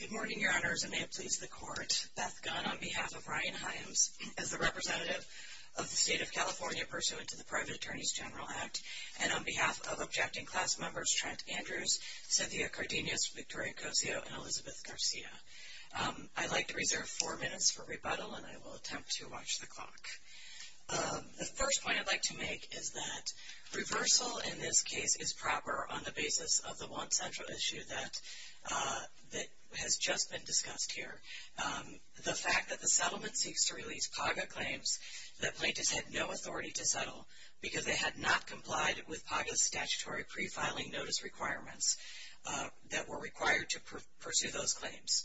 Good morning, Your Honors, and may it please the Court, Beth Gunn on behalf of Ryan Himes as the representative of the State of California pursuant to the Private Attorneys General Act, and on behalf of objecting class members Trent Andrews, Cynthia Cardenas, Victoria Cosio, and Elizabeth Garcia. I'd like to reserve four minutes for rebuttal, and I will attempt to watch the clock. The first point I'd like to make is that reversal in this case is proper on the basis of the one central issue that has just been discussed here. The fact that the settlement seeks to release PAGA claims that plaintiffs had no authority to settle because they had not complied with PAGA's statutory pre-filing notice requirements that were required to pursue those claims.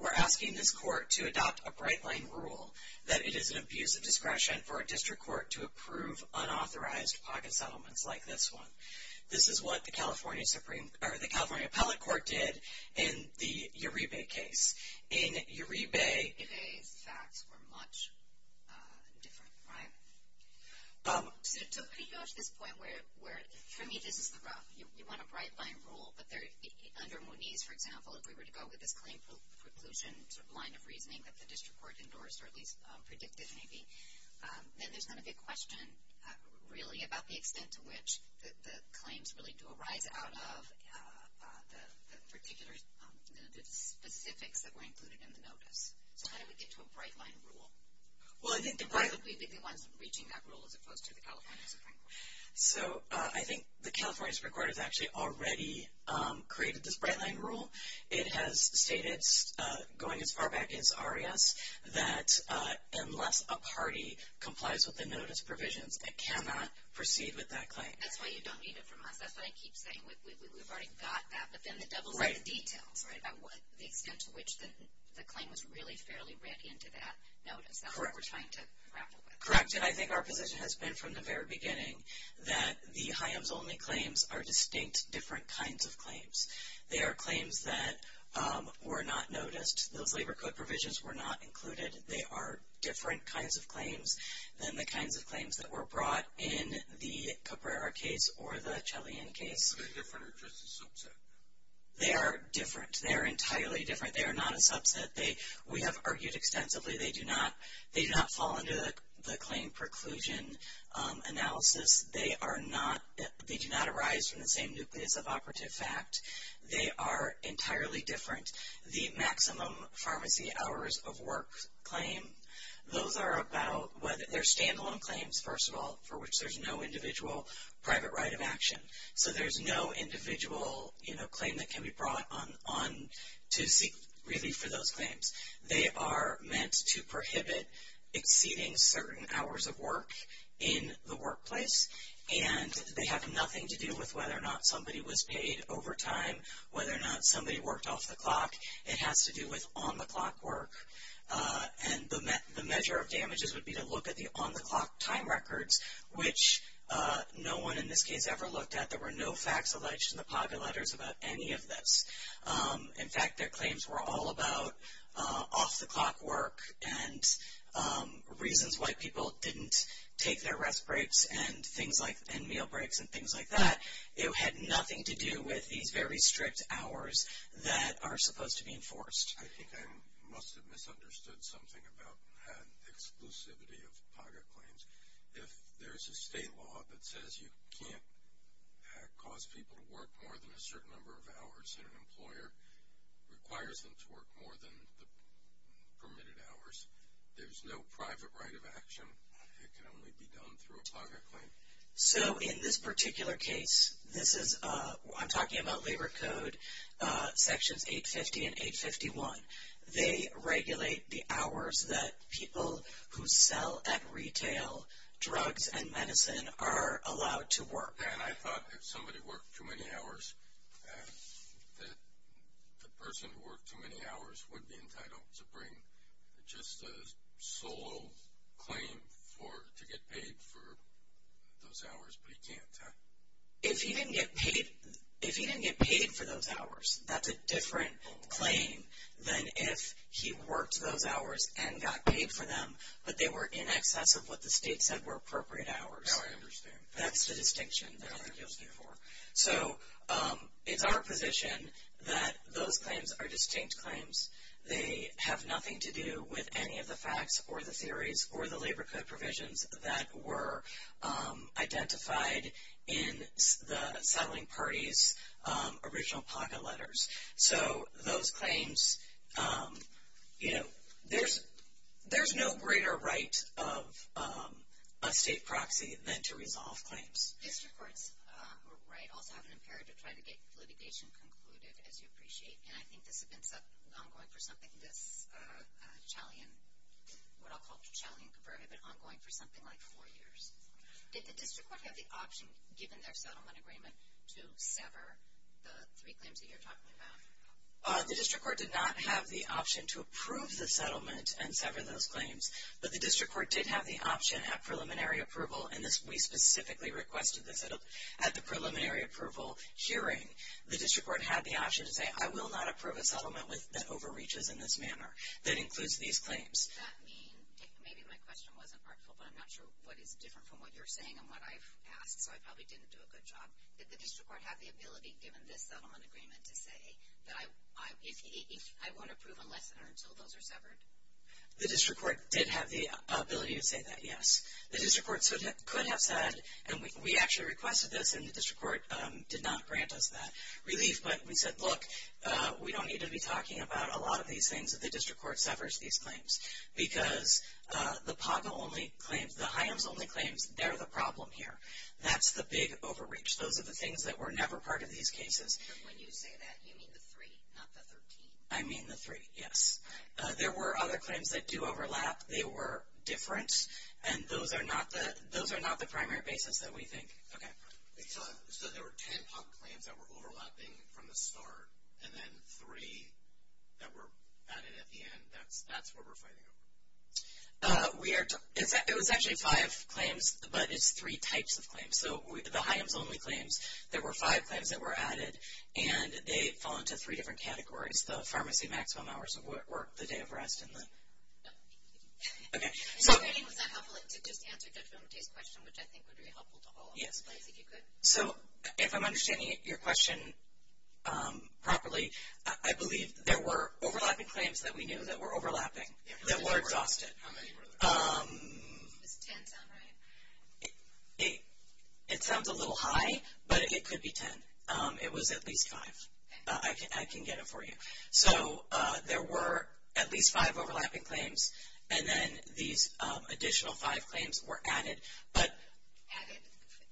We're asking this Court to adopt a bright-line rule that it is an abuse of discretion for a district court to approve unauthorized PAGA settlements like this one. This is what the California Supreme, or the California Appellate Court did in the Uribe case. In Uribe... Uribe's facts were much different, right? So, how do you go to this point where, for me, this is the rough, you want a bright-line rule, but under Mooney's, for example, if we were to go with this claim preclusion line of reasoning that the district court endorsed, or at least predicted, maybe, then there's going to be a question, really, about the extent to which the claims really do arise out of the specifics that were included in the notice. So, how do we get to a bright-line rule? Why would we be the ones reaching that rule as opposed to the California Supreme Court? So, I think the California Supreme Court has actually already created this bright-line rule. It has stated, going as far back as Arias, that unless a party complies with the notice provisions, it cannot proceed with that claim. That's why you don't need it from us. That's what I keep saying. We've already got that, but then the devil's in the details, right, about the extent to which the claim was really fairly read into that notice. That's what we're trying to grapple with. Correct. And I think our position has been from the very beginning that the HIAMS-only claims are distinct, different kinds of claims. They are claims that were not noticed. Those labor code provisions were not included. They are different kinds of claims than the kinds of claims that were brought in the Caprera case or the Chelian case. Are they different or just a subset? They are different. They are entirely different. They are not a subset. We have argued extensively. They do not fall under the claim preclusion analysis. They do not arise from the same nucleus of operative fact. They are entirely different. The maximum pharmacy hours of work claim, those are about whether they're stand-alone claims, first of all, for which there's no individual private right of action. So there's no individual claim that can be brought on to seek relief for those claims. They are meant to prohibit exceeding certain hours of work in the workplace. And they have nothing to do with whether or not somebody was paid overtime, whether or not somebody worked off the clock. It has to do with on-the-clock work. And the measure of damages would be to look at the on-the-clock time records, which no one in this case ever looked at. There were no facts alleged in the pocket letters about any of this. In fact, their claims were all about off-the-clock work and reasons why people didn't take their rest breaks and meal breaks and things like that. It had nothing to do with these very strict hours that are supposed to be enforced. I think I must have misunderstood something about the exclusivity of pocket claims. If there's a state law that says you can't cause people to work more than a certain number of hours and an employer requires them to work more than the permitted hours, there's no private right of action. It can only be done through a pocket claim. So in this particular case, this is, I'm talking about Labor Code Sections 850 and 851. They regulate the hours that people who sell at retail drugs and medicine are allowed to work. And I thought if somebody worked too many hours, that the person who worked too many hours would be entitled to bring just a solo claim to get paid for those hours, but he can't, huh? If he didn't get paid for those hours, that's a different claim than if he worked those hours and got paid for them, but they were in excess of what the state said were appropriate hours. Now I understand. That's the distinction that other deals give for. So it's our position that those claims are distinct claims. They have nothing to do with any of the facts or the theories or the Labor Code provisions that were identified in the settling party's original pocket letters. So those claims, you know, there's no greater right of a state proxy than to resolve claims. District courts, right, also have an imperative to try to get litigation concluded, as you appreciate. And I think this has been ongoing for something, this Chalian, what I'll call the Chalian Convert, has been ongoing for something like four years. Did the district court have the option, given their settlement agreement, to sever the three claims that you're talking about? The district court did not have the option to approve the settlement and sever those claims, but the district court did have the option at preliminary approval, and we specifically requested this at the preliminary approval hearing. The district court had the option to say, I will not approve a settlement that overreaches in this manner, that includes these claims. Does that mean, maybe my question wasn't helpful, but I'm not sure what is different from what you're saying and what I've asked, so I probably didn't do a good job. Did the district court have the ability, given this settlement agreement, to say that I won't approve unless or until those are severed? The district court did have the ability to say that, yes. The district court could have said, and we actually requested this, and the district court did not grant us that relief. But we said, look, we don't need to be talking about a lot of these things if the district court severs these claims, because the POGMA-only claims, the HIAMS-only claims, they're the problem here. That's the big overreach. Those are the things that were never part of these cases. But when you say that, you mean the three, not the 13? I mean the three, yes. There were other claims that do overlap. They were different, and those are not the primary basis that we think. Okay. So there were 10 POGMA claims that were overlapping from the start, and then three that were added at the end. That's what we're fighting over? It was actually five claims, but it's three types of claims. So the HIAMS-only claims, there were five claims that were added, and they fall into three different categories. The pharmacy maximum hours of work, the day of rest, and the... Okay. I mean, was that helpful to just answer Judge Vomittee's question, which I think would be helpful to all of us, if you could? So if I'm understanding your question properly, I believe there were overlapping claims that we knew that were overlapping that were exhausted. How many were there? Does 10 sound right? It sounds a little high, but it could be 10. It was at least five. Okay. I can get it for you. So there were at least five overlapping claims, and then these additional five claims were added, but... Added.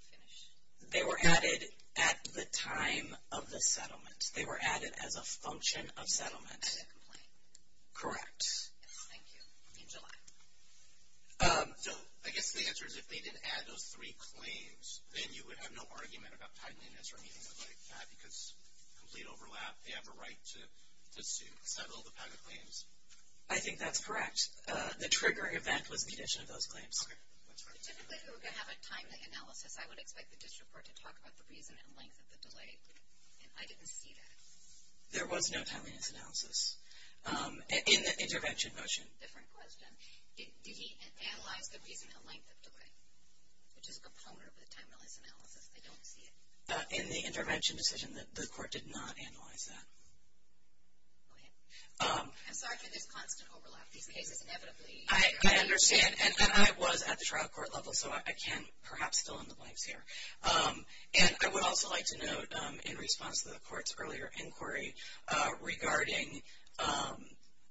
Finish. They were added at the time of the settlement. They were added as a function of settlement. As a complaint. Correct. Yes. Thank you. In July. So I guess the answer is if they didn't add those three claims, then you would have no argument about tightening this or anything like that because complete overlap. They have a right to settle the PACA claims. I think that's correct. The trigger event was the addition of those claims. Typically, if we were going to have a timely analysis, I would expect the district court to talk about the reason and length of the delay, and I didn't see that. There was no timeliness analysis in the intervention motion. Different question. Did he analyze the reason and length of the delay, which is a component of the timeliness analysis? I don't see it. In the intervention decision, the court did not analyze that. Go ahead. I'm sorry for this constant overlap. These cases inevitably... I understand, and I was at the trial court level, so I can perhaps fill in the blanks here. And I would also like to note, in response to the court's earlier inquiry, regarding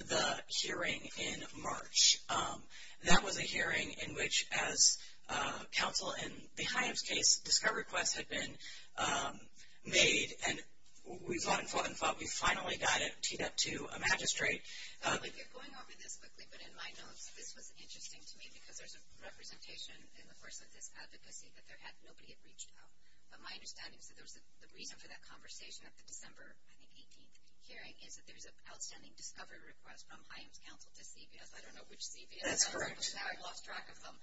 the hearing in March. That was a hearing in which, as counsel in the Hyams case, discover requests had been made, and we fought and fought and fought. We finally got it teed up to a magistrate. If you're going over this quickly, but in my notes, this was interesting to me because there's a representation in the course of this advocacy that nobody had reached out. But my understanding is that the reason for that conversation at the December, I think, 18th hearing is that there's an outstanding discovery request from Hyams counsel to CBS. I don't know which CBS. That's correct. I lost track of them.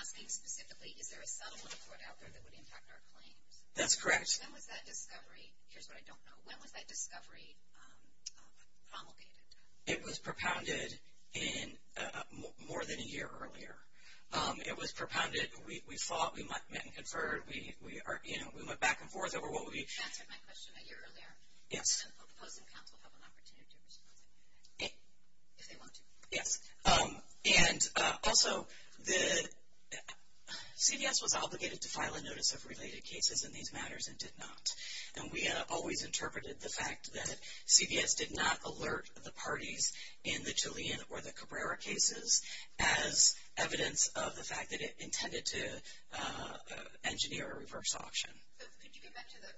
Asking specifically, is there a settlement for it out there that would impact our claims? That's correct. When was that discovery? Here's what I don't know. When was that discovery promulgated? It was propounded more than a year earlier. It was propounded, we fought, we met and conferred, we went back and forth over what we... You answered my question a year earlier. Yes. I'm proposing counsel have an opportunity to respond to that if they want to. Yes. And also, CBS was obligated to file a notice of related cases in these matters and did not. And we always interpreted the fact that CBS did not alert the parties in the Julian or the Cabrera cases as evidence of the fact that it intended to engineer a reverse auction. Could you get back to the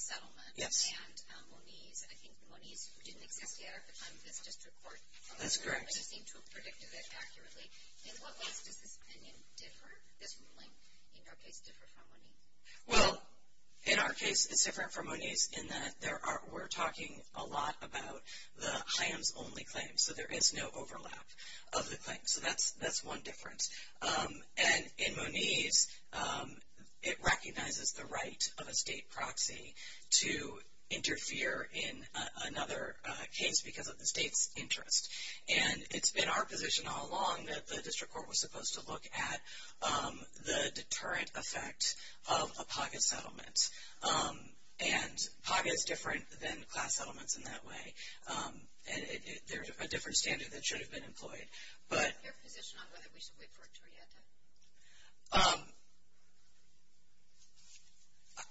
settlement? Yes. And Moniz. I think Moniz didn't exist yet at the time of this district court. That's correct. But you seem to have predicted it accurately. In what ways does this opinion differ? This ruling, in your case, differ from Moniz? Well, in our case, it's different from Moniz in that we're talking a lot about the HIAMS-only claims. So there is no overlap of the claims. So that's one difference. And in Moniz, it recognizes the right of a state proxy to interfere in another case because of the state's interest. And it's been our position all along that the district court was supposed to look at the deterrent effect of a pocket settlement. And pocket is different than class settlements in that way. There's a different standard that should have been employed. What's your position on whether we should wait for a torietta?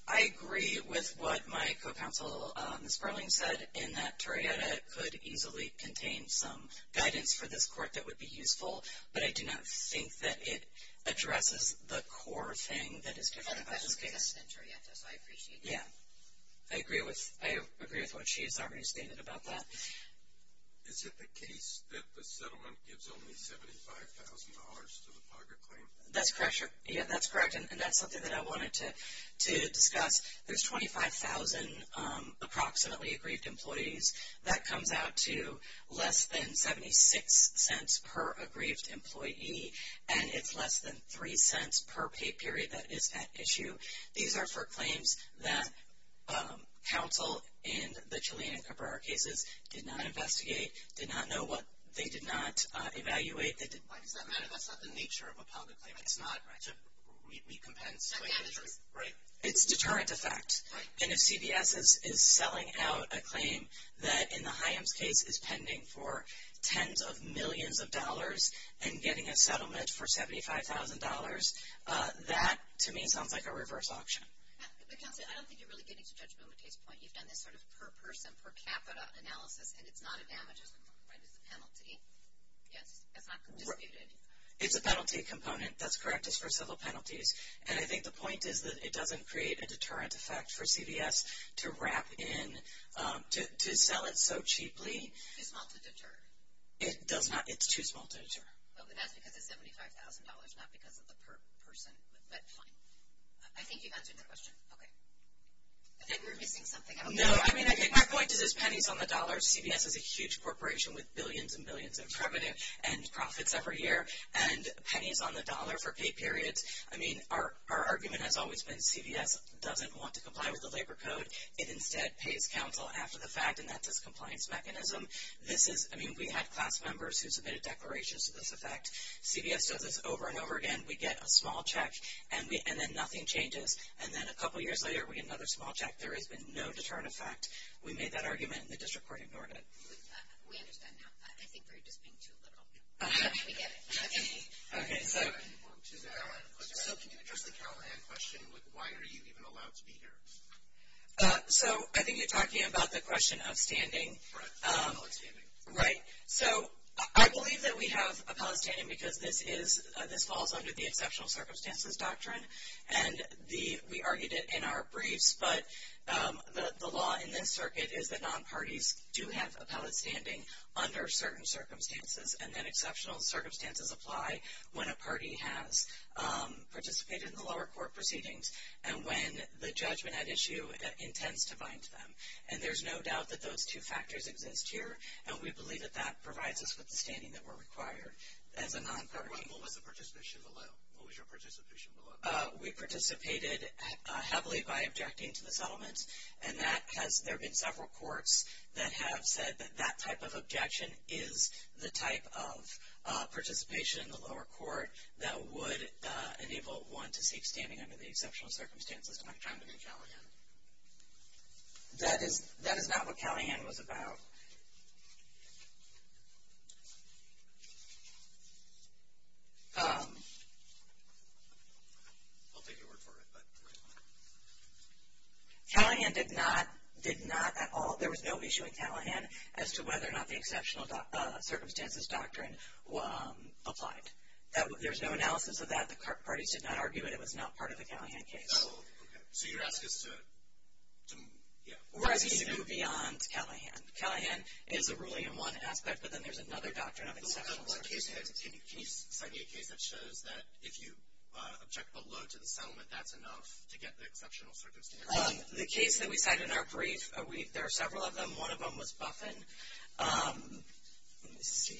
I agree with what my co-counsel, Ms. Burling, said in that torietta could easily contain some guidance for this court that would be useful. But I do not think that it addresses the core thing that is different about this case. But the court has a sentenced torietta, so I appreciate that. Yeah. I agree with what she has already stated about that. Is it the case that the settlement gives only $75,000 to the pocket claim? That's correct. Yeah, that's correct. And that's something that I wanted to discuss. There's 25,000 approximately aggrieved employees. That comes out to less than $0.76 per aggrieved employee. And it's less than $0.03 per pay period that is at issue. These are for claims that counsel in the Chalina-Cabrera cases did not investigate, did not know what they did not evaluate. Why does that matter? That's not the nature of a pocket claim. It's not to recompense. It's a deterrent. Right. It's a deterrent effect. Right. And if CBS is selling out a claim that in the Hyams case is pending for tens of millions of dollars and getting a settlement for $75,000, that to me sounds like a reverse auction. But counsel, I don't think you're really getting to Judge Momotay's point. You've done this sort of per person, per capita analysis, and it's not a damages. Right. It's a penalty. Yes. It's not disputed. It's a penalty component. That's correct. It's for civil penalties. And I think the point is that it doesn't create a deterrent effect for CBS to wrap in, to sell it so cheaply. It's not to deter. It does not. It's too small to deter. Well, then that's because it's $75,000, not because of the per person. But fine. I think you've answered that question. Okay. I think we're missing something. No. I mean, I think my point is there's pennies on the dollar. CBS is a huge corporation with billions and billions of revenue and profits every year, and pennies on the dollar for pay periods. I mean, our argument has always been CBS doesn't want to comply with the labor code. It instead pays counsel after the fact, and that's its compliance mechanism. This is, I mean, we had class members who submitted declarations to this effect. CBS does this over and over again. We get a small check, and then nothing changes. And then a couple years later, we get another small check. There has been no deterrent effect. We made that argument, and the district court ignored it. We understand now. I think we're just being too literal. We get it. Okay. Okay. So can you address the Callahan question with why are you even allowed to be here? So I think you're talking about the question of standing. Right. Appellate standing. Right. So I believe that we have appellate standing because this falls under the Exceptional Circumstances Doctrine. And we argued it in our briefs. But the law in this circuit is that non-parties do have appellate standing under certain circumstances. And then exceptional circumstances apply when a party has participated in the lower court proceedings and when the judgment at issue intends to bind them. And there's no doubt that those two factors exist here. And we believe that that provides us with the standing that we're required as a non-party. What was the participation below? What was your participation below? We participated heavily by objecting to the settlement. And there have been several courts that have said that that type of objection is the type of participation in the lower court that would enable one to seek standing under the Exceptional Circumstances Doctrine under Callahan. That is not what Callahan was about. Callahan did not at all, there was no issue in Callahan as to whether or not the Exceptional Circumstances Doctrine applied. There's no analysis of that. The parties did not argue it. It was not part of the Callahan case. So you're asking us to... We're asking you to go beyond Callahan. Callahan is a ruling in one aspect, but then there's another Doctrine of Exceptional Circumstances. Can you cite me a case that shows that if you object below to the settlement, that's enough to get the Exceptional Circumstances? The case that we cite in our brief, there are several of them. One of them was Buffen. Let me see.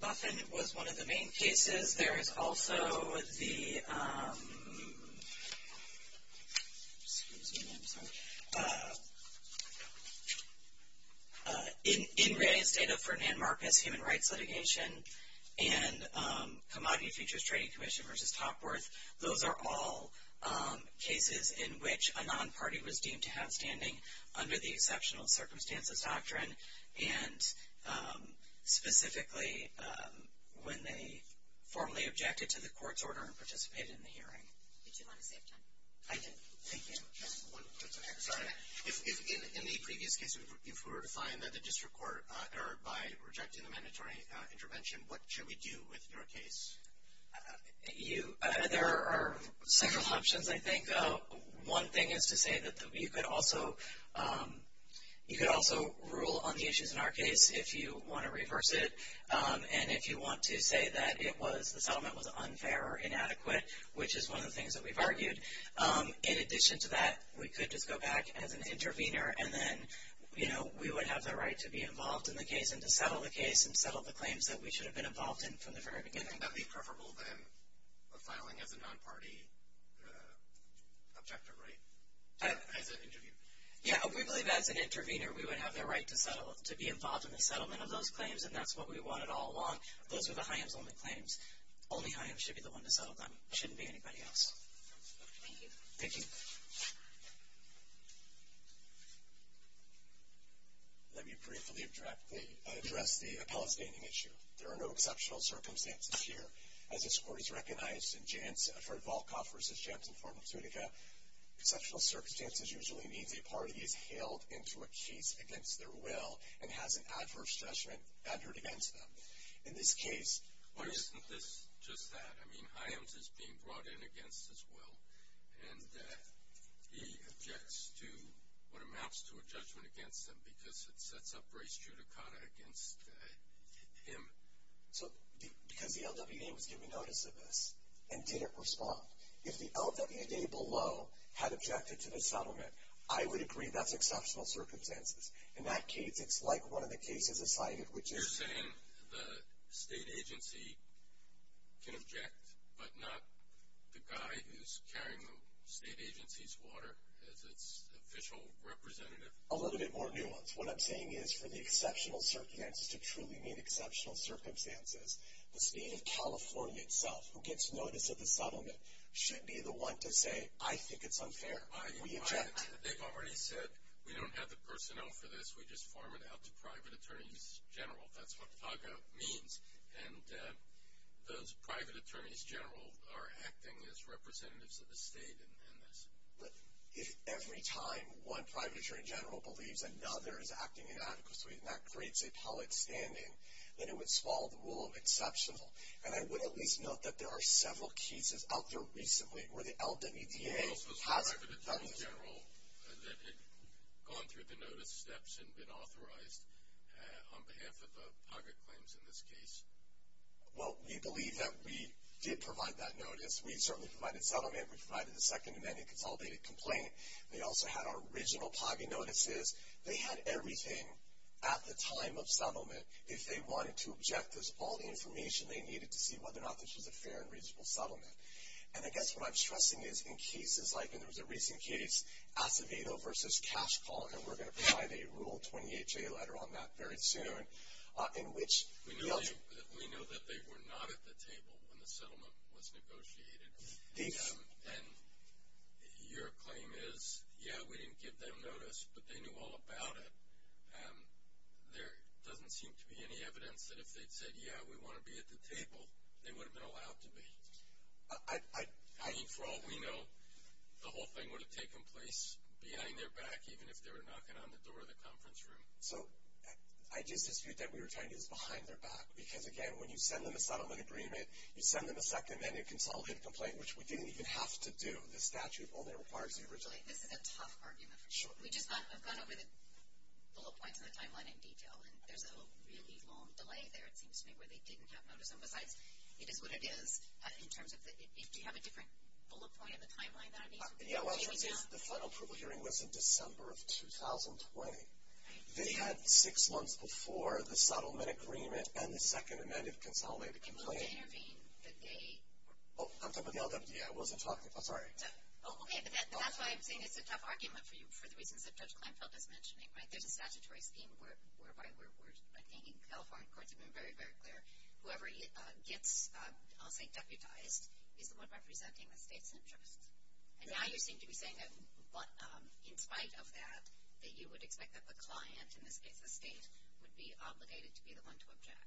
Buffen was one of the main cases. There is also the... Excuse me, I'm sorry. In realliance data for Nan Marcus, human rights litigation and Commodity Futures Trading Commission v. Topworth, those are all cases in which a non-party was deemed to have standing under the Exceptional Circumstances Doctrine, and specifically when they formally objected to the court's order and participated in the hearing. Did you want to save time? I did. Thank you. Sorry. In the previous case, if we were to find that the district court erred by rejecting the mandatory intervention, what should we do with your case? There are several options, I think. One thing is to say that you could also rule on the issues in our case if you want to reverse it, and if you want to say that the settlement was unfair or inadequate, which is one of the things that we've argued. In addition to that, we could just go back as an intervener, and then we would have the right to be involved in the case and to settle the case and settle the claims that we should have been involved in from the very beginning. Wouldn't that be preferable than filing as a non-party objector, right, as an intervener? Yeah, we believe as an intervener we would have the right to be involved in the settlement of those claims, and that's what we wanted all along. Those were the HIAMS-only claims. Only HIAMS should be the one to settle them. It shouldn't be anybody else. Thank you. Thank you. Let me briefly address the appellate standing issue. There are no exceptional circumstances here. As this Court has recognized for Volkoff v. Jantz and formal Zutica, exceptional circumstances usually means a party is hailed into a case against their will and has an adverse judgment entered against them. In this case, why isn't this just that? I mean, HIAMS is being brought in against its will, and he objects to what amounts to a judgment against them because it sets up race judicata against him. So because the LWDA was given notice of this and didn't respond, if the LWDA below had objected to the settlement, I would agree that's exceptional circumstances. In that case, it's like one of the cases cited, which is...... A little bit more nuanced. What I'm saying is, for the exceptional circumstances to truly mean exceptional circumstances, the State of California itself, who gets notice of the settlement, should be the one to say, I think it's unfair. We don't have the personnel for this. We just form it out to private attorneys general. That's what TAGA means. And those private attorneys general are acting as representatives of the state in this. If every time one private attorney general believes another is acting inadequately, and that creates a public standing, then it would swallow the rule of exceptional. And I would at least note that there are several cases out there recently where the LWDA has done this.... Well, we believe that we did provide that notice. We certainly provided settlement. We provided the Second Amendment Consolidated Complaint. They also had our original PAGI notices. They had everything at the time of settlement if they wanted to object. There's all the information they needed to see whether or not this was a fair and reasonable settlement. And I guess what I'm stressing is in cases like, and there was a recent case, Acevedo versus Cash Call, and we're going to provide a Rule 28JA letter on that very soon, in which the LWDA... We know that they were not at the table when the settlement was negotiated. And your claim is, yeah, we didn't give them notice, but they knew all about it. There doesn't seem to be any evidence that if they'd said, yeah, we want to be at the table, they would have been allowed to be. I mean, for all we know, the whole thing would have taken place behind their back, even if they were knocking on the door of the conference room. So I just dispute that we were trying to use behind their back, because, again, when you send them a settlement agreement, you send them a Second Amendment Consolidated Complaint, which we didn't even have to do. The statute only requires the original. This is a tough argument. Sure. We just have gone over the little points in the timeline in detail, and there's a really long delay there, it seems to me, where they didn't have notice. And besides, it is what it is. Do you have a different bullet point in the timeline that I need? Yeah, well, the final approval hearing was in December of 2020. They had six months before the settlement agreement and the Second Amendment Consolidated Complaint. And when did they intervene? Oh, I'm talking about the LWDA. I wasn't talking. I'm sorry. Oh, okay, but that's why I'm saying it's a tough argument for you, for the reasons that Judge Kleinfeld is mentioning, right? There's a statutory scheme whereby we're attaining California courts. Whoever gets, I'll say deputized, is the one representing the state's interests. And now you seem to be saying that in spite of that, that you would expect that the client, in this case the state, would be obligated to be the one to object.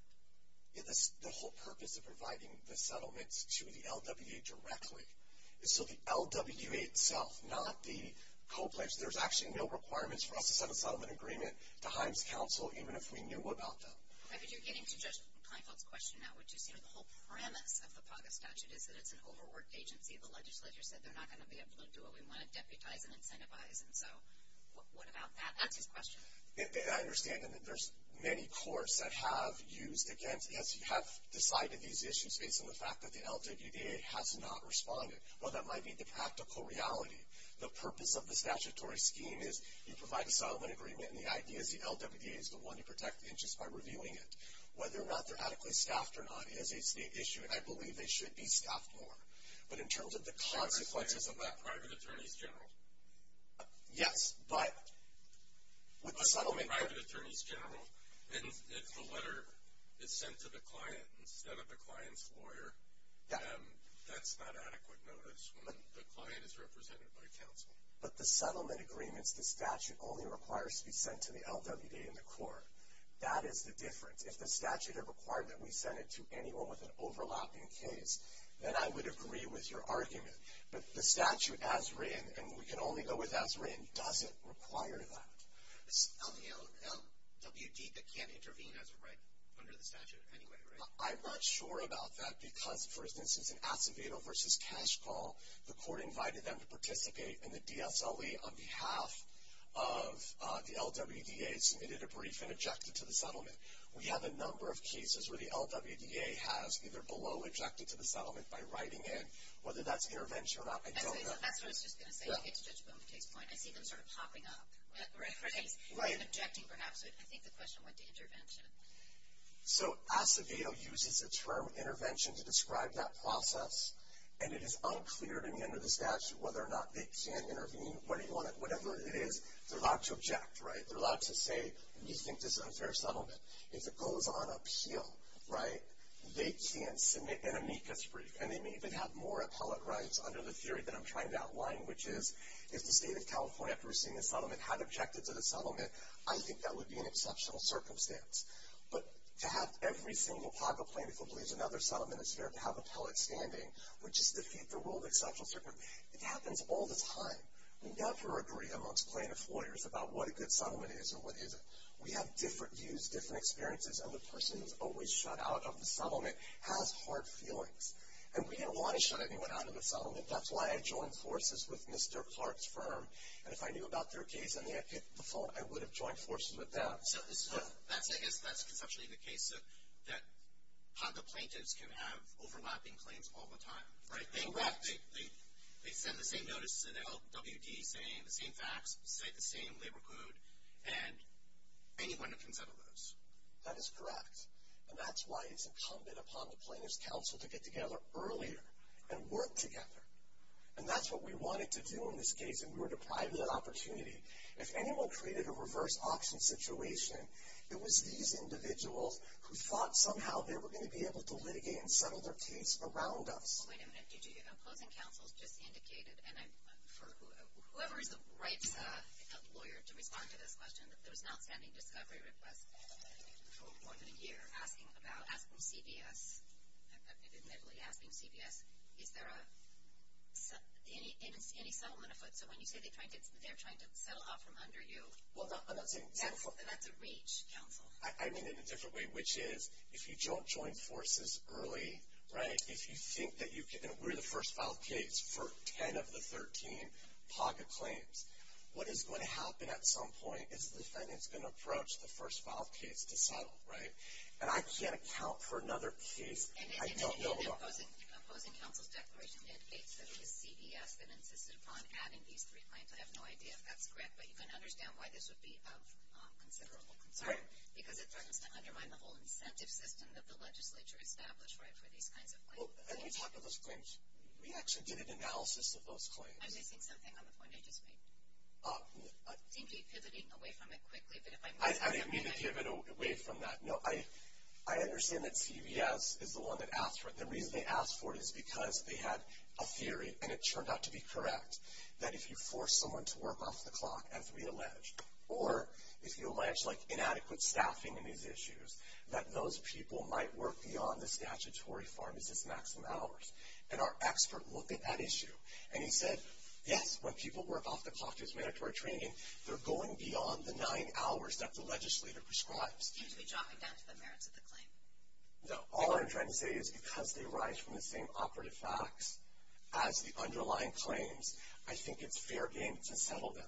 The whole purpose of providing the settlements to the LWDA directly is so the LWDA itself, not the co-plaintiffs, there's actually no requirements for us to set a settlement agreement to Himes Council even if we knew about them. Okay, but you're getting to Judge Kleinfeld's question now, which is, you know, the whole premise of the PAGA statute is that it's an overworked agency. The legislature said they're not going to be able to do what we want to deputize and incentivize, and so what about that? That's his question. I understand, and there's many courts that have used against, have decided these issues based on the fact that the LWDA has not responded. Well, that might be the practical reality. The purpose of the statutory scheme is you provide a settlement agreement, and the idea is the LWDA is the one to protect the interests by reviewing it. Whether or not they're adequately staffed or not is a state issue, and I believe they should be staffed more. But in terms of the consequences of that. Private attorneys general. Yes, but with the settlement. Private attorneys general, if the letter is sent to the client instead of the client's lawyer, that's not adequate notice when the client is represented by counsel. But the settlement agreements, the statute only requires to be sent to the LWDA and the court. That is the difference. If the statute had required that we send it to anyone with an overlapping case, then I would agree with your argument. But the statute as written, and we can only go with as written, doesn't require that. It's LWD that can't intervene as a right under the statute anyway, right? I'm not sure about that because, for instance, in Acevedo v. Cash Call, the court invited them to participate in the DSLE on behalf of the LWDA, submitted a brief, and objected to the settlement. We have a number of cases where the LWDA has either below objected to the settlement by writing in. Whether that's intervention or not, I don't know. That's what I was just going to say. I get to Judge Bowman's point. I see them sort of popping up. Right? Or objecting perhaps. I think the question went to intervention. So Acevedo uses the term intervention to describe that process, and it is unclear to me under the statute whether or not they can intervene. Whatever it is, they're allowed to object, right? They're allowed to say, we think this is an unfair settlement. If it goes on up hill, right, they can submit an amicus brief, and they may even have more appellate rights under the theory that I'm trying to outline, which is if the state of California, after receiving the settlement, had objected to the settlement, I think that would be an exceptional circumstance. But to have every single pago plaintiff who believes another settlement is fair to have appellate standing, would just defeat the rule of exceptional circumstance. It happens all the time. We never agree amongst plaintiff lawyers about what a good settlement is or what isn't. We have different views, different experiences, and the person who's always shut out of the settlement has hard feelings. And we didn't want to shut anyone out of the settlement. That's why I joined forces with Mr. Clark's firm, and if I knew about their case and they had hit the phone, I would have joined forces with them. So I guess that's conceptually the case that pago plaintiffs can have overlapping claims all the time. Correct. They send the same notice to the LWD saying the same facts, say the same labor code, and anyone can settle those. That is correct. And that's why it's incumbent upon the plaintiff's counsel to get together earlier and work together. And that's what we wanted to do in this case, and we were deprived of that opportunity. If anyone created a reverse auction situation, it was these individuals who thought somehow they were going to be able to litigate and settle their case around us. Well, wait a minute. Did you hear that? Opposing counsel just indicated, and I'm for whoever is the right lawyer to respond to this question, that there was an outstanding discovery request for more than a year asking CBS, admittedly asking CBS, is there any settlement afoot? So when you say they're trying to settle off from under you, that's a reach, counsel. I mean it in a different way, which is if you don't join forces early, right, if you think that you're the first filed case for 10 of the 13 pago claims, what is going to happen at some point is the defendant is going to approach the first filed case to settle, right? And I can't account for another case I don't know about. Opposing counsel's declaration indicates that it was CBS that insisted upon adding these three clients. I have no idea if that's correct, but you can understand why this would be of considerable concern. Because it threatens to undermine the whole incentive system that the legislature established, right, for these kinds of claims. When you talk about those claims, we actually did an analysis of those claims. I'm missing something on the point I just made. You seem to be pivoting away from it quickly, but if I might add something. I didn't mean to pivot away from that. No, I understand that CBS is the one that asked for it. The reason they asked for it is because they had a theory, and it turned out to be correct, that if you force someone to work off the clock, as we allege, or if you allege, like, inadequate staffing in these issues, that those people might work beyond the statutory farm as its maximum hours. And our expert looked at that issue, and he said, yes, when people work off the clock, they're going beyond the nine hours that the legislature prescribes. You seem to be dropping down to the merits of the claim. No. All I'm trying to say is because they arise from the same operative facts as the underlying claims, I think it's fair game to settle them.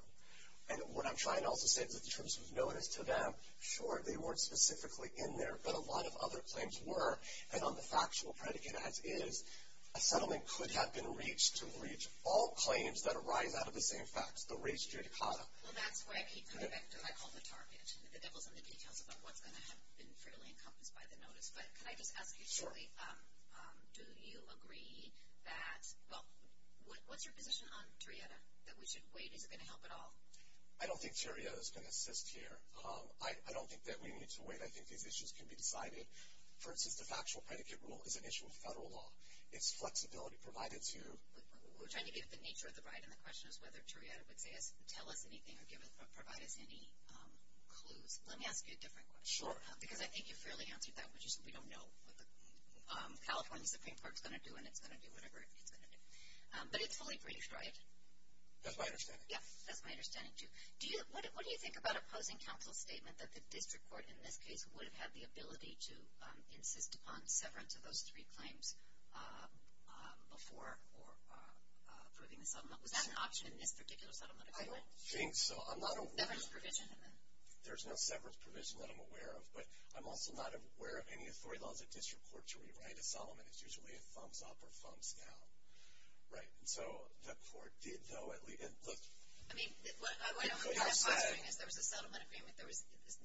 And what I'm trying to also say is that the terms of notice to them, sure, they weren't specifically in there, but a lot of other claims were, and on the factual predicate as is, a settlement could have been reached to breach all claims that arise out of the same facts, the res judicata. Well, that's where I keep coming back to what I call the target. The devil's in the details about what's going to have been fairly encompassed by the notice. But can I just ask you, Julie, do you agree that what's your position on Terrietta, that we should wait? Is it going to help at all? I don't think Terrietta is going to assist here. I don't think that we need to wait. I think these issues can be decided. For instance, the factual predicate rule is an issue of federal law. It's flexibility provided to you. We're trying to give it the nature of the right, and the question is whether Terrietta would tell us anything or provide us any clues. Let me ask you a different question. Sure. Because I think you fairly answered that, which is we don't know what the California Supreme Court is going to do, and it's going to do whatever it's going to do. But it's fully breached, right? That's my understanding. Yeah, that's my understanding, too. What do you think about opposing counsel's statement that the district court, in this case, would have had the ability to insist upon severance of those three claims before approving the settlement? Was that an option in this particular settlement agreement? I don't think so. Severance provision? There's no severance provision that I'm aware of, but I'm also not aware of any authority laws that district courts rewrite. A settlement is usually a thumbs-up or thumbs-down, right? And so the court did, though, at least – I mean, what I'm posturing is there was a settlement agreement. The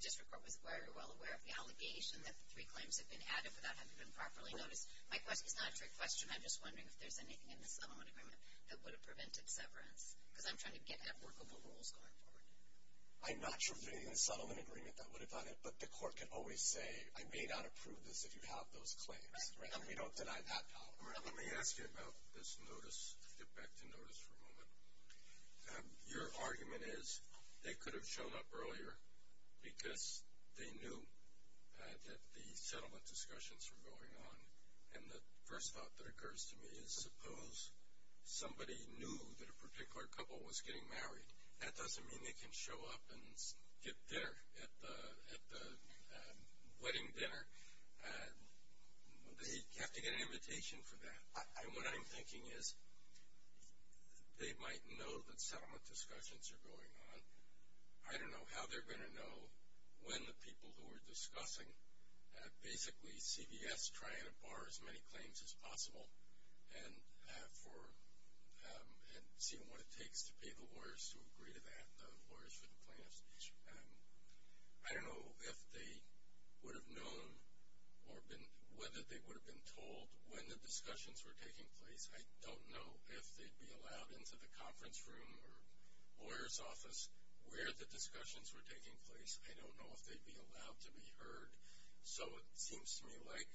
district court was very well aware of the allegation that the three claims had been added without having been properly noticed. It's not a trick question. I'm just wondering if there's anything in the settlement agreement that would have prevented severance, because I'm trying to get at workable rules going forward. I'm not sure if there's anything in the settlement agreement that would have done it, but the court can always say, I may not approve this if you have those claims. Right. And we don't deny that power. Well, let me ask you about this notice, to get back to notice for a moment. Your argument is they could have shown up earlier because they knew that the settlement discussions were going on. And the first thought that occurs to me is suppose somebody knew that a particular couple was getting married. That doesn't mean they can show up and get dinner at the wedding dinner. They have to get an invitation for that. What I'm thinking is they might know that settlement discussions are going on. I don't know how they're going to know when the people who are discussing, basically CVS trying to bar as many claims as possible and seeing what it takes to pay the lawyers to agree to that, the lawyers for the plaintiffs. I don't know if they would have known or whether they would have been told when the discussions were taking place. I don't know if they'd be allowed into the conference room or lawyer's office where the discussions were taking place. I don't know if they'd be allowed to be heard. So it seems to me like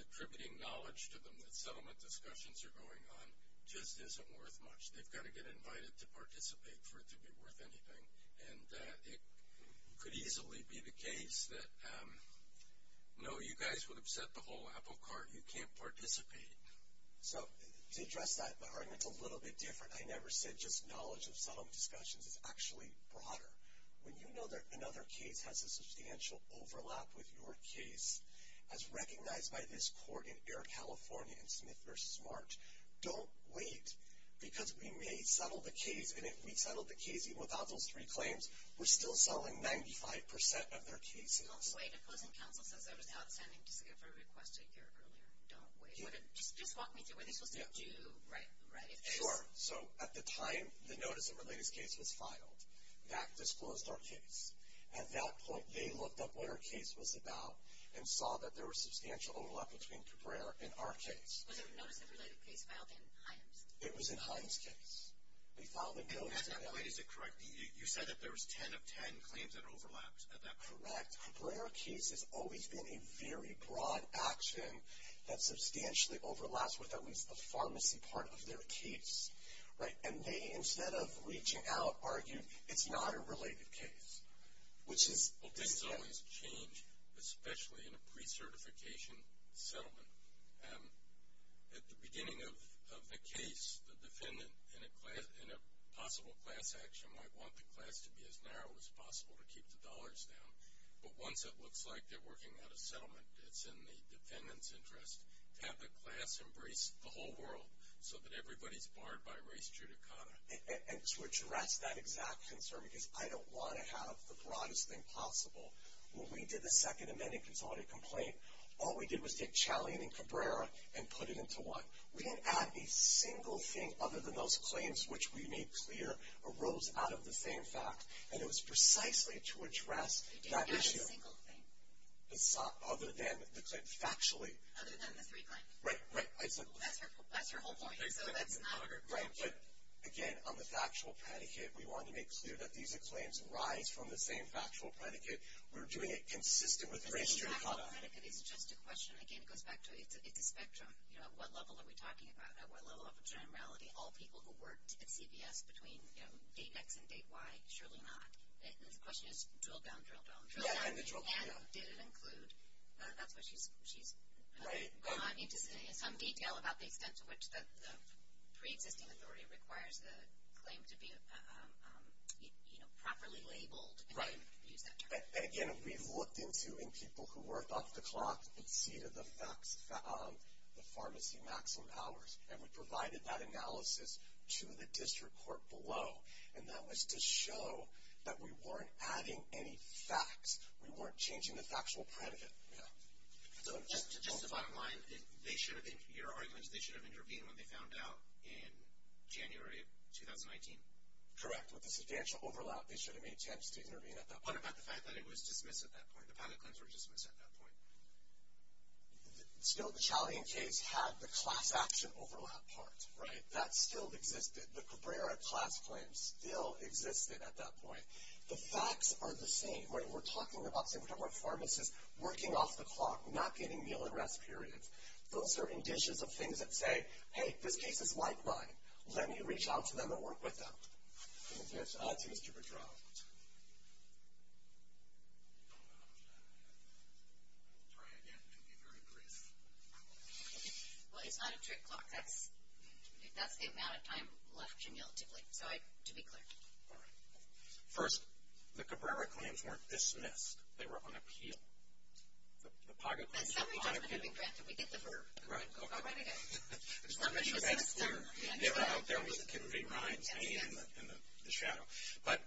attributing knowledge to them that settlement discussions are going on just isn't worth much. They've got to get invited to participate for it to be worth anything. And it could easily be the case that no, you guys would upset the whole apple cart. You can't participate. So to address that, my argument's a little bit different. I never said just knowledge of settlement discussions. It's actually broader. When you know that another case has a substantial overlap with your case, as recognized by this court in Air California in Smith v. March, don't wait. Because we may settle the case, and if we settle the case, even without those three claims, we're still selling 95% of their cases. Don't wait. A closing counsel says there was outstanding discovery requested a year earlier. Don't wait. Just walk me through. Were they supposed to do, right? Sure. So at the time, the notice of related case was filed. That disclosed our case. At that point, they looked up what our case was about and saw that there was substantial overlap between Cabrera and our case. Was the notice of related case filed in Himes? It was in Himes' case. We filed a notice of that. At that point, is it correct? You said that there was ten of ten claims that overlapped at that point. Correct. Cabrera case has always been a very broad action that substantially overlaps with at least the pharmacy part of their case. And they, instead of reaching out, argued it's not a related case. Well, things always change, especially in a pre-certification settlement. At the beginning of the case, the defendant in a possible class action might want the class to be as narrow as possible to keep the dollars down. But once it looks like they're working at a settlement, it's in the defendant's interest to have the class embrace the whole world so that everybody's barred by race judicata. And to address that exact concern, because I don't want to have the broadest thing possible. When we did the Second Amendment Consolidated Complaint, all we did was take Chaly and Cabrera and put it into one. We didn't add a single thing other than those claims, which we made clear arose out of the same fact. And it was precisely to address that issue. You didn't add a single thing? Other than the claim, factually. Other than the three claims? Right, right. That's her whole point. Right, but again, on the factual predicate, we wanted to make clear that these claims arise from the same factual predicate. We're doing it consistent with race judicata. The factual predicate is just a question. Again, it goes back to it's a spectrum. At what level are we talking about? At what level of generality? All people who worked at CVS between date X and date Y? Surely not. The question is drill down, drill down, drill down. And did it include? She's gone into some detail about the extent to which the preexisting authority requires the claim to be, you know, properly labeled. Right. And again, we've looked into in people who work off the clock and see to the facts, the pharmacy maximum hours. And we provided that analysis to the district court below. And that was to show that we weren't adding any facts. We weren't changing the factual predicate. Yeah. Just the bottom line, they should have, in your arguments, they should have intervened when they found out in January of 2019. Correct. With the substantial overlap, they should have made attempts to intervene at that point. What about the fact that it was dismissed at that point? The pilot claims were dismissed at that point. Still, the Chalian case had the class action overlap part. Right. That still existed. The Cabrera class claims still existed at that point. The facts are the same. What we're talking about, say, we're talking about pharmacists working off the clock, not getting meal and rest periods. Those are indicions of things that say, hey, this case is like mine. Let me reach out to them and work with them. And that's on to Mr. Padron. Try again. It can be very brief. Well, it's not a trick clock. That's the amount of time left to meal to wait. So, to be clear. All right. First, the Cabrera claims weren't dismissed. They were on appeal. The Paga claims were on appeal. And summary judgment would be granted. We get the verb. Right. I'll write it again. I just want to make sure that's clear. They were out there with the kidney rinds hanging in the shadow. But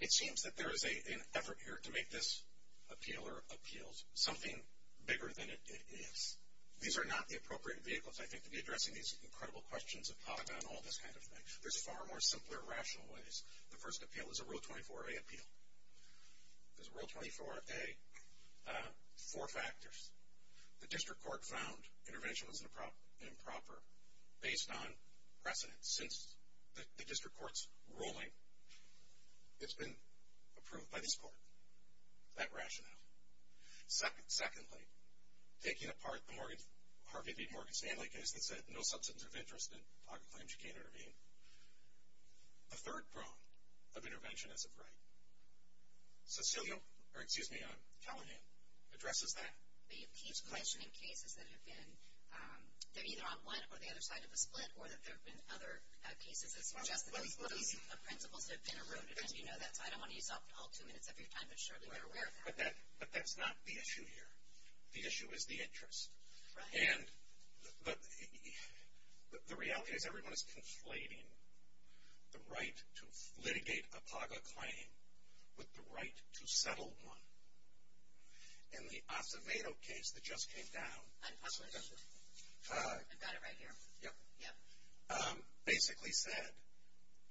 it seems that there is an effort here to make this appeal or appeals something bigger than it is. These are not the appropriate vehicles, I think, to be addressing these incredible questions of Paga and all this kind of thing. There's far more simpler rational ways. The first appeal is a Rule 24A appeal. There's a Rule 24A, four factors. The district court found intervention was improper based on precedent. Since the district court's ruling, it's been approved by this court. That rationale. Secondly, taking apart the Harvey B. Morgan Stanley case that said no substance of interest in Paga claims, you can't intervene. The third prong of intervention is of right. Cecilio or, excuse me, Callahan addresses that. But you keep mentioning cases that have been either on one or the other side of the split or that there have been other cases that suggest that those principles have been eroded. And you know that, so I don't want to use up all two minutes of your time. But surely you're aware of that. But that's not the issue here. The issue is the interest. And the reality is everyone is conflating the right to litigate a Paga claim with the right to settle one. And the Acevedo case that just came down basically said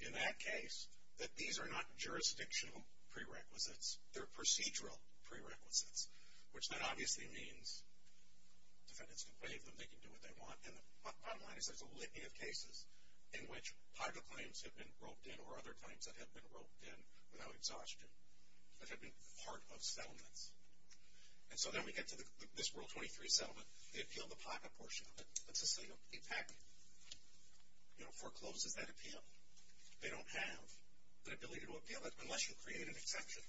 in that case that these are not jurisdictional prerequisites. They're procedural prerequisites. Which then obviously means defendants can waive them. They can do what they want. And the bottom line is there's a litany of cases in which Paga claims have been roped in or other claims that have been roped in without exhaustion that have been part of settlements. And so then we get to this Rule 23 settlement. They appeal the Paga portion of it. But Cecilio, in fact, forecloses that appeal. They don't have the ability to appeal it unless you create an exception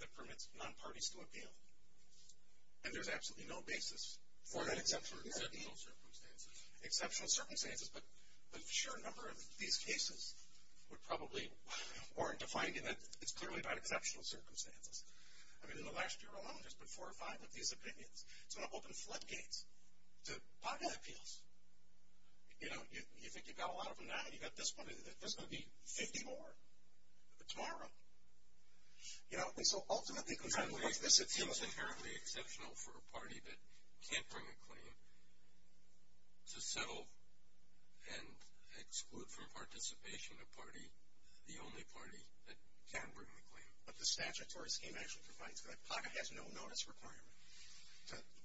that permits non-parties to appeal. And there's absolutely no basis for that exception. Exceptional circumstances. Exceptional circumstances. But the sheer number of these cases would probably warrant a finding that it's clearly about exceptional circumstances. I mean, in the last year alone there's been four or five of these opinions. It's going to open floodgates to Paga appeals. You know, you think you've got a lot of them now? You've got this one. There's going to be 50 more tomorrow. You know, and so ultimately, because I believe this seems inherently exceptional for a party that can't bring a claim to settle and exclude from participation a party, the only party that can bring a claim. But the statutory scheme actually provides for that. Paga has no notice requirement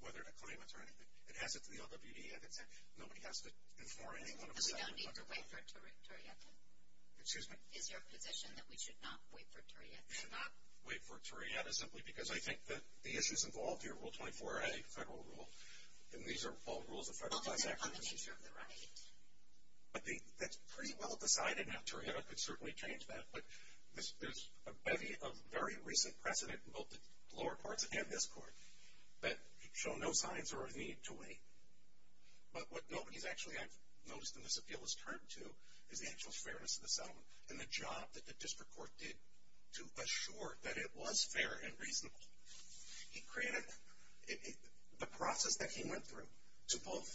whether to claim it or anything. It has it to the LWD. Nobody has to inform anyone of a settlement under Paga. But we don't need to wait for Turrieta? Excuse me? Is there a position that we should not wait for Turrieta? We should not wait for Turrieta simply because I think that the issues involved here, Rule 24a, federal rule, and these are all rules of federal tax action. Well, they're not on the nature of the right. That's pretty well decided now. Turrieta could certainly change that. But there's a bevy of very recent precedent in both the lower courts and this court that show no signs or a need to wait. But what nobody's actually noticed in this appeal is turned to is the actual fairness of the settlement and the job that the district court did to assure that it was fair and reasonable. It created the process that he went through to both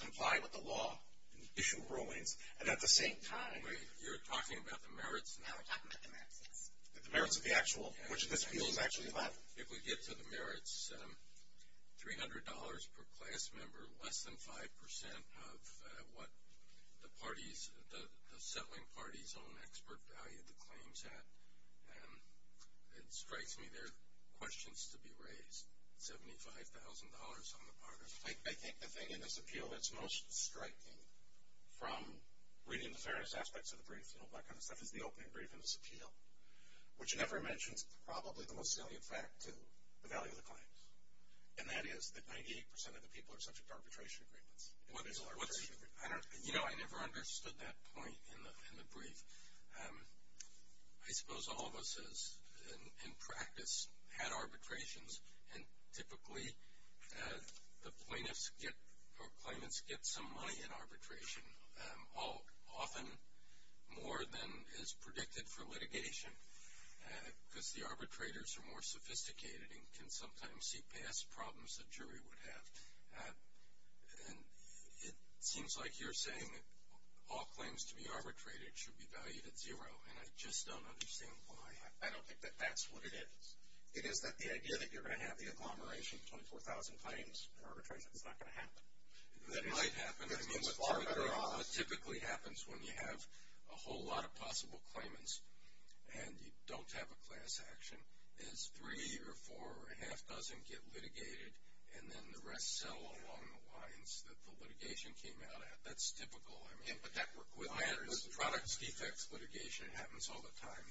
comply with the law and issue rulings, and at the same time, you're talking about the merits now. We're talking about the merits, yes. The merits of the actual, which this appeal is actually about. If we get to the merits, $300 per class member, less than 5% of what the parties, the settling parties own expert value of the claims at. It strikes me there are questions to be raised, $75,000 on the part of the parties. I think the thing in this appeal that's most striking from reading the fairness aspects of the brief and all that kind of stuff is the opening brief in this appeal, which never mentions probably the most salient fact to the value of the claims, and that is that 98% of the people are subject to arbitration agreements. You know, I never understood that point in the brief. I suppose all of us in practice had arbitrations, and typically the plaintiffs or claimants get some money in arbitration, often more than is predicted for litigation because the arbitrators are more sophisticated and can sometimes see past problems a jury would have. It seems like you're saying all claims to be arbitrated should be valued at zero, and I just don't understand why. I don't think that that's what it is. It is that the idea that you're going to have the agglomeration of 24,000 claims in arbitration is not going to happen. That might happen. I mean, that typically happens when you have a whole lot of possible claimants and you don't have a class action is three or four or a half dozen get litigated, and then the rest settle along the lines that the litigation came out at. That's typical. I mean, with products defects litigation, it happens all the time.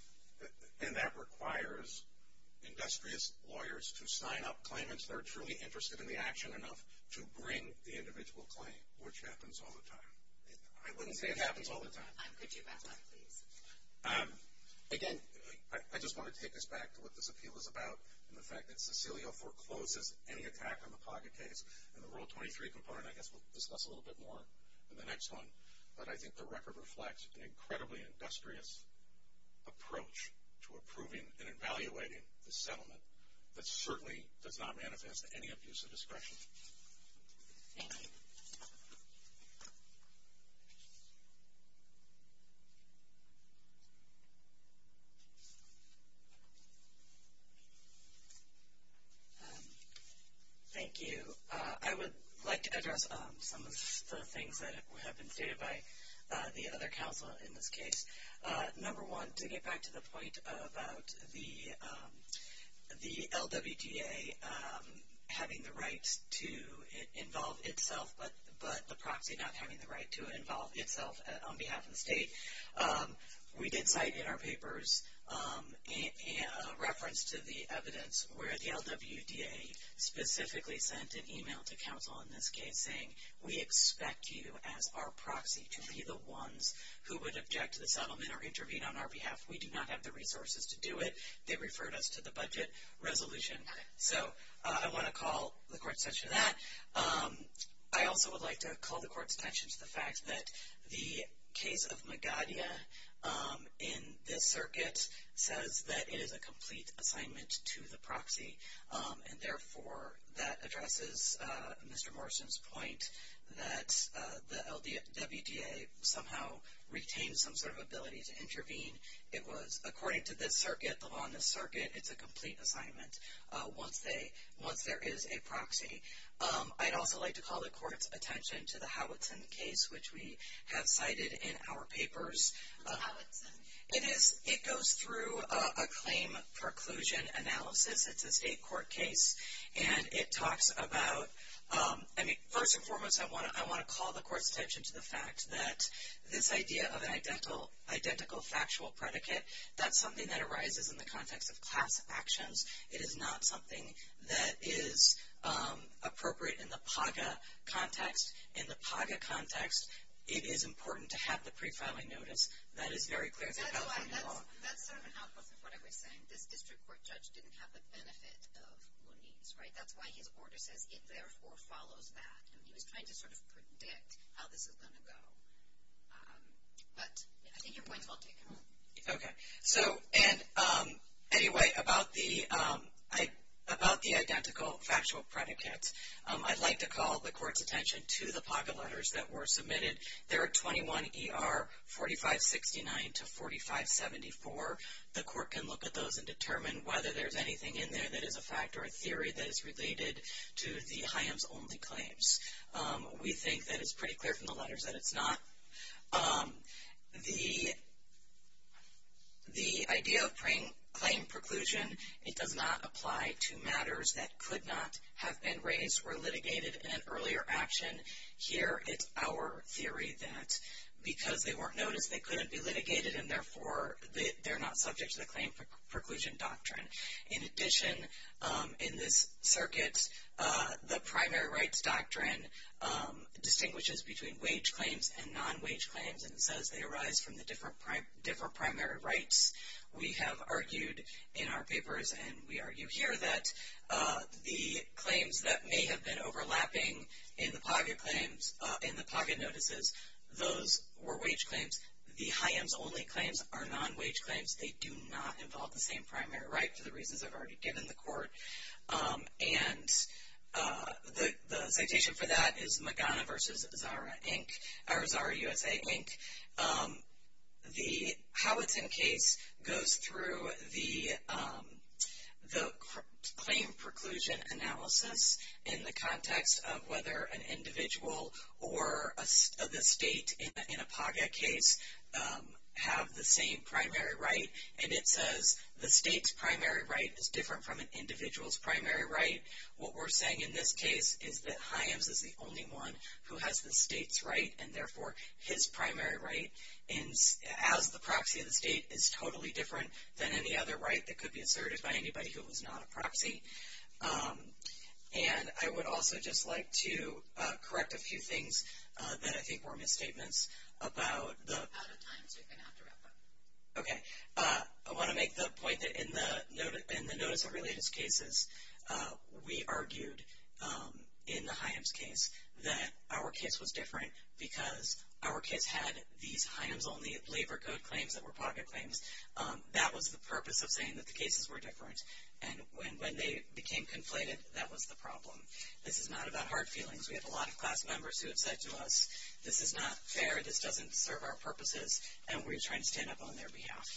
And that requires industrious lawyers to sign up claimants that are truly interested in the action enough to bring the individual claim, which happens all the time. I wouldn't say it happens all the time. Could you back up, please? Again, I just want to take us back to what this appeal is about and the fact that Cecilio forecloses any attack on the pocket case in the Rule 23 component. I guess we'll discuss a little bit more in the next one, but I think the record reflects an incredibly industrious approach to approving and evaluating the settlement that certainly does not manifest any abuse of discretion. Thank you. Thank you. I would like to address some of the things that have been stated by the other counsel in this case. Number one, to get back to the point about the LWDA having the right to involve itself but the proxy not having the right to involve itself on behalf of the state, we did cite in our papers a reference to the evidence where the LWDA specifically sent an email to counsel in this case saying, we expect you as our proxy to be the ones who would object to the settlement or intervene on our behalf. We do not have the resources to do it. They referred us to the budget resolution. So I want to call the court's attention to that. I also would like to call the court's attention to the fact that the case of Magadia in this circuit says that it is a complete assignment to the proxy, and therefore that addresses Mr. Morrison's point that the LWDA somehow retains some sort of ability to intervene. It was, according to this circuit, the law in this circuit, it's a complete assignment once there is a proxy. I'd also like to call the court's attention to the Howitson case, which we have cited in our papers. What's Howitson? It goes through a claim preclusion analysis. It's a state court case, and it talks about, I mean, first and foremost, I want to call the court's attention to the fact that this idea of an identical factual predicate, that's something that arises in the context of class actions. It is not something that is appropriate in the PAGA context. In the PAGA context, it is important to have the prefiling notice. That is very clear in the California law. That's sort of an outcome of what I was saying. This district court judge didn't have the benefit of Looney's, right? That's why his order says it therefore follows that. He was trying to sort of predict how this was going to go. But I think your point is well taken. Okay. So anyway, about the identical factual predicates, I'd like to call the court's attention to the pocket letters that were submitted. There are 21 ER 4569 to 4574. The court can look at those and determine whether there's anything in there that is a fact or a theory that is related to the HIAMS-only claims. We think that it's pretty clear from the letters that it's not. The idea of claim preclusion, it does not apply to matters that could not have been raised or litigated in an earlier action. Here, it's our theory that because they weren't noticed, they couldn't be litigated, and therefore they're not subject to the claim preclusion doctrine. In addition, in this circuit, the primary rights doctrine distinguishes between wage claims and non-wage claims, and it says they arise from the different primary rights. We have argued in our papers, and we argue here, that the claims that may have been overlapping in the pocket claims, in the pocket notices, those were wage claims. The HIAMS-only claims are non-wage claims. They do not involve the same primary right for the reasons I've already given the court. And the citation for that is Magana v. Zara, USA, Inc. The Howitton case goes through the claim preclusion analysis in the context of whether an individual or the state in a pocket case have the same primary right. And it says the state's primary right is different from an individual's primary right. What we're saying in this case is that HIAMS is the only one who has the state's right, and therefore his primary right as the proxy of the state is totally different than any other right that could be asserted by anybody who was not a proxy. And I would also just like to correct a few things that I think were misstatements about the... Out of time, so you're going to have to wrap up. Okay. I want to make the point that in the notice of related cases, we argued in the HIAMS case that our case was different because our case had these HIAMS-only labor code claims that were pocket claims. That was the purpose of saying that the cases were different. And when they became conflated, that was the problem. This is not about hard feelings. We have a lot of class members who have said to us, this is not fair. This doesn't serve our purposes. And we're trying to stand up on their behalf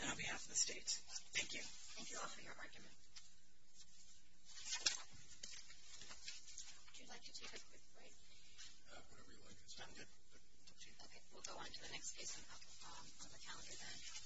and on behalf of the state. Thank you. Thank you all for your argument. Would you like to take a quick break? Whatever you like. Okay. We'll go on to the next case on the calendar then.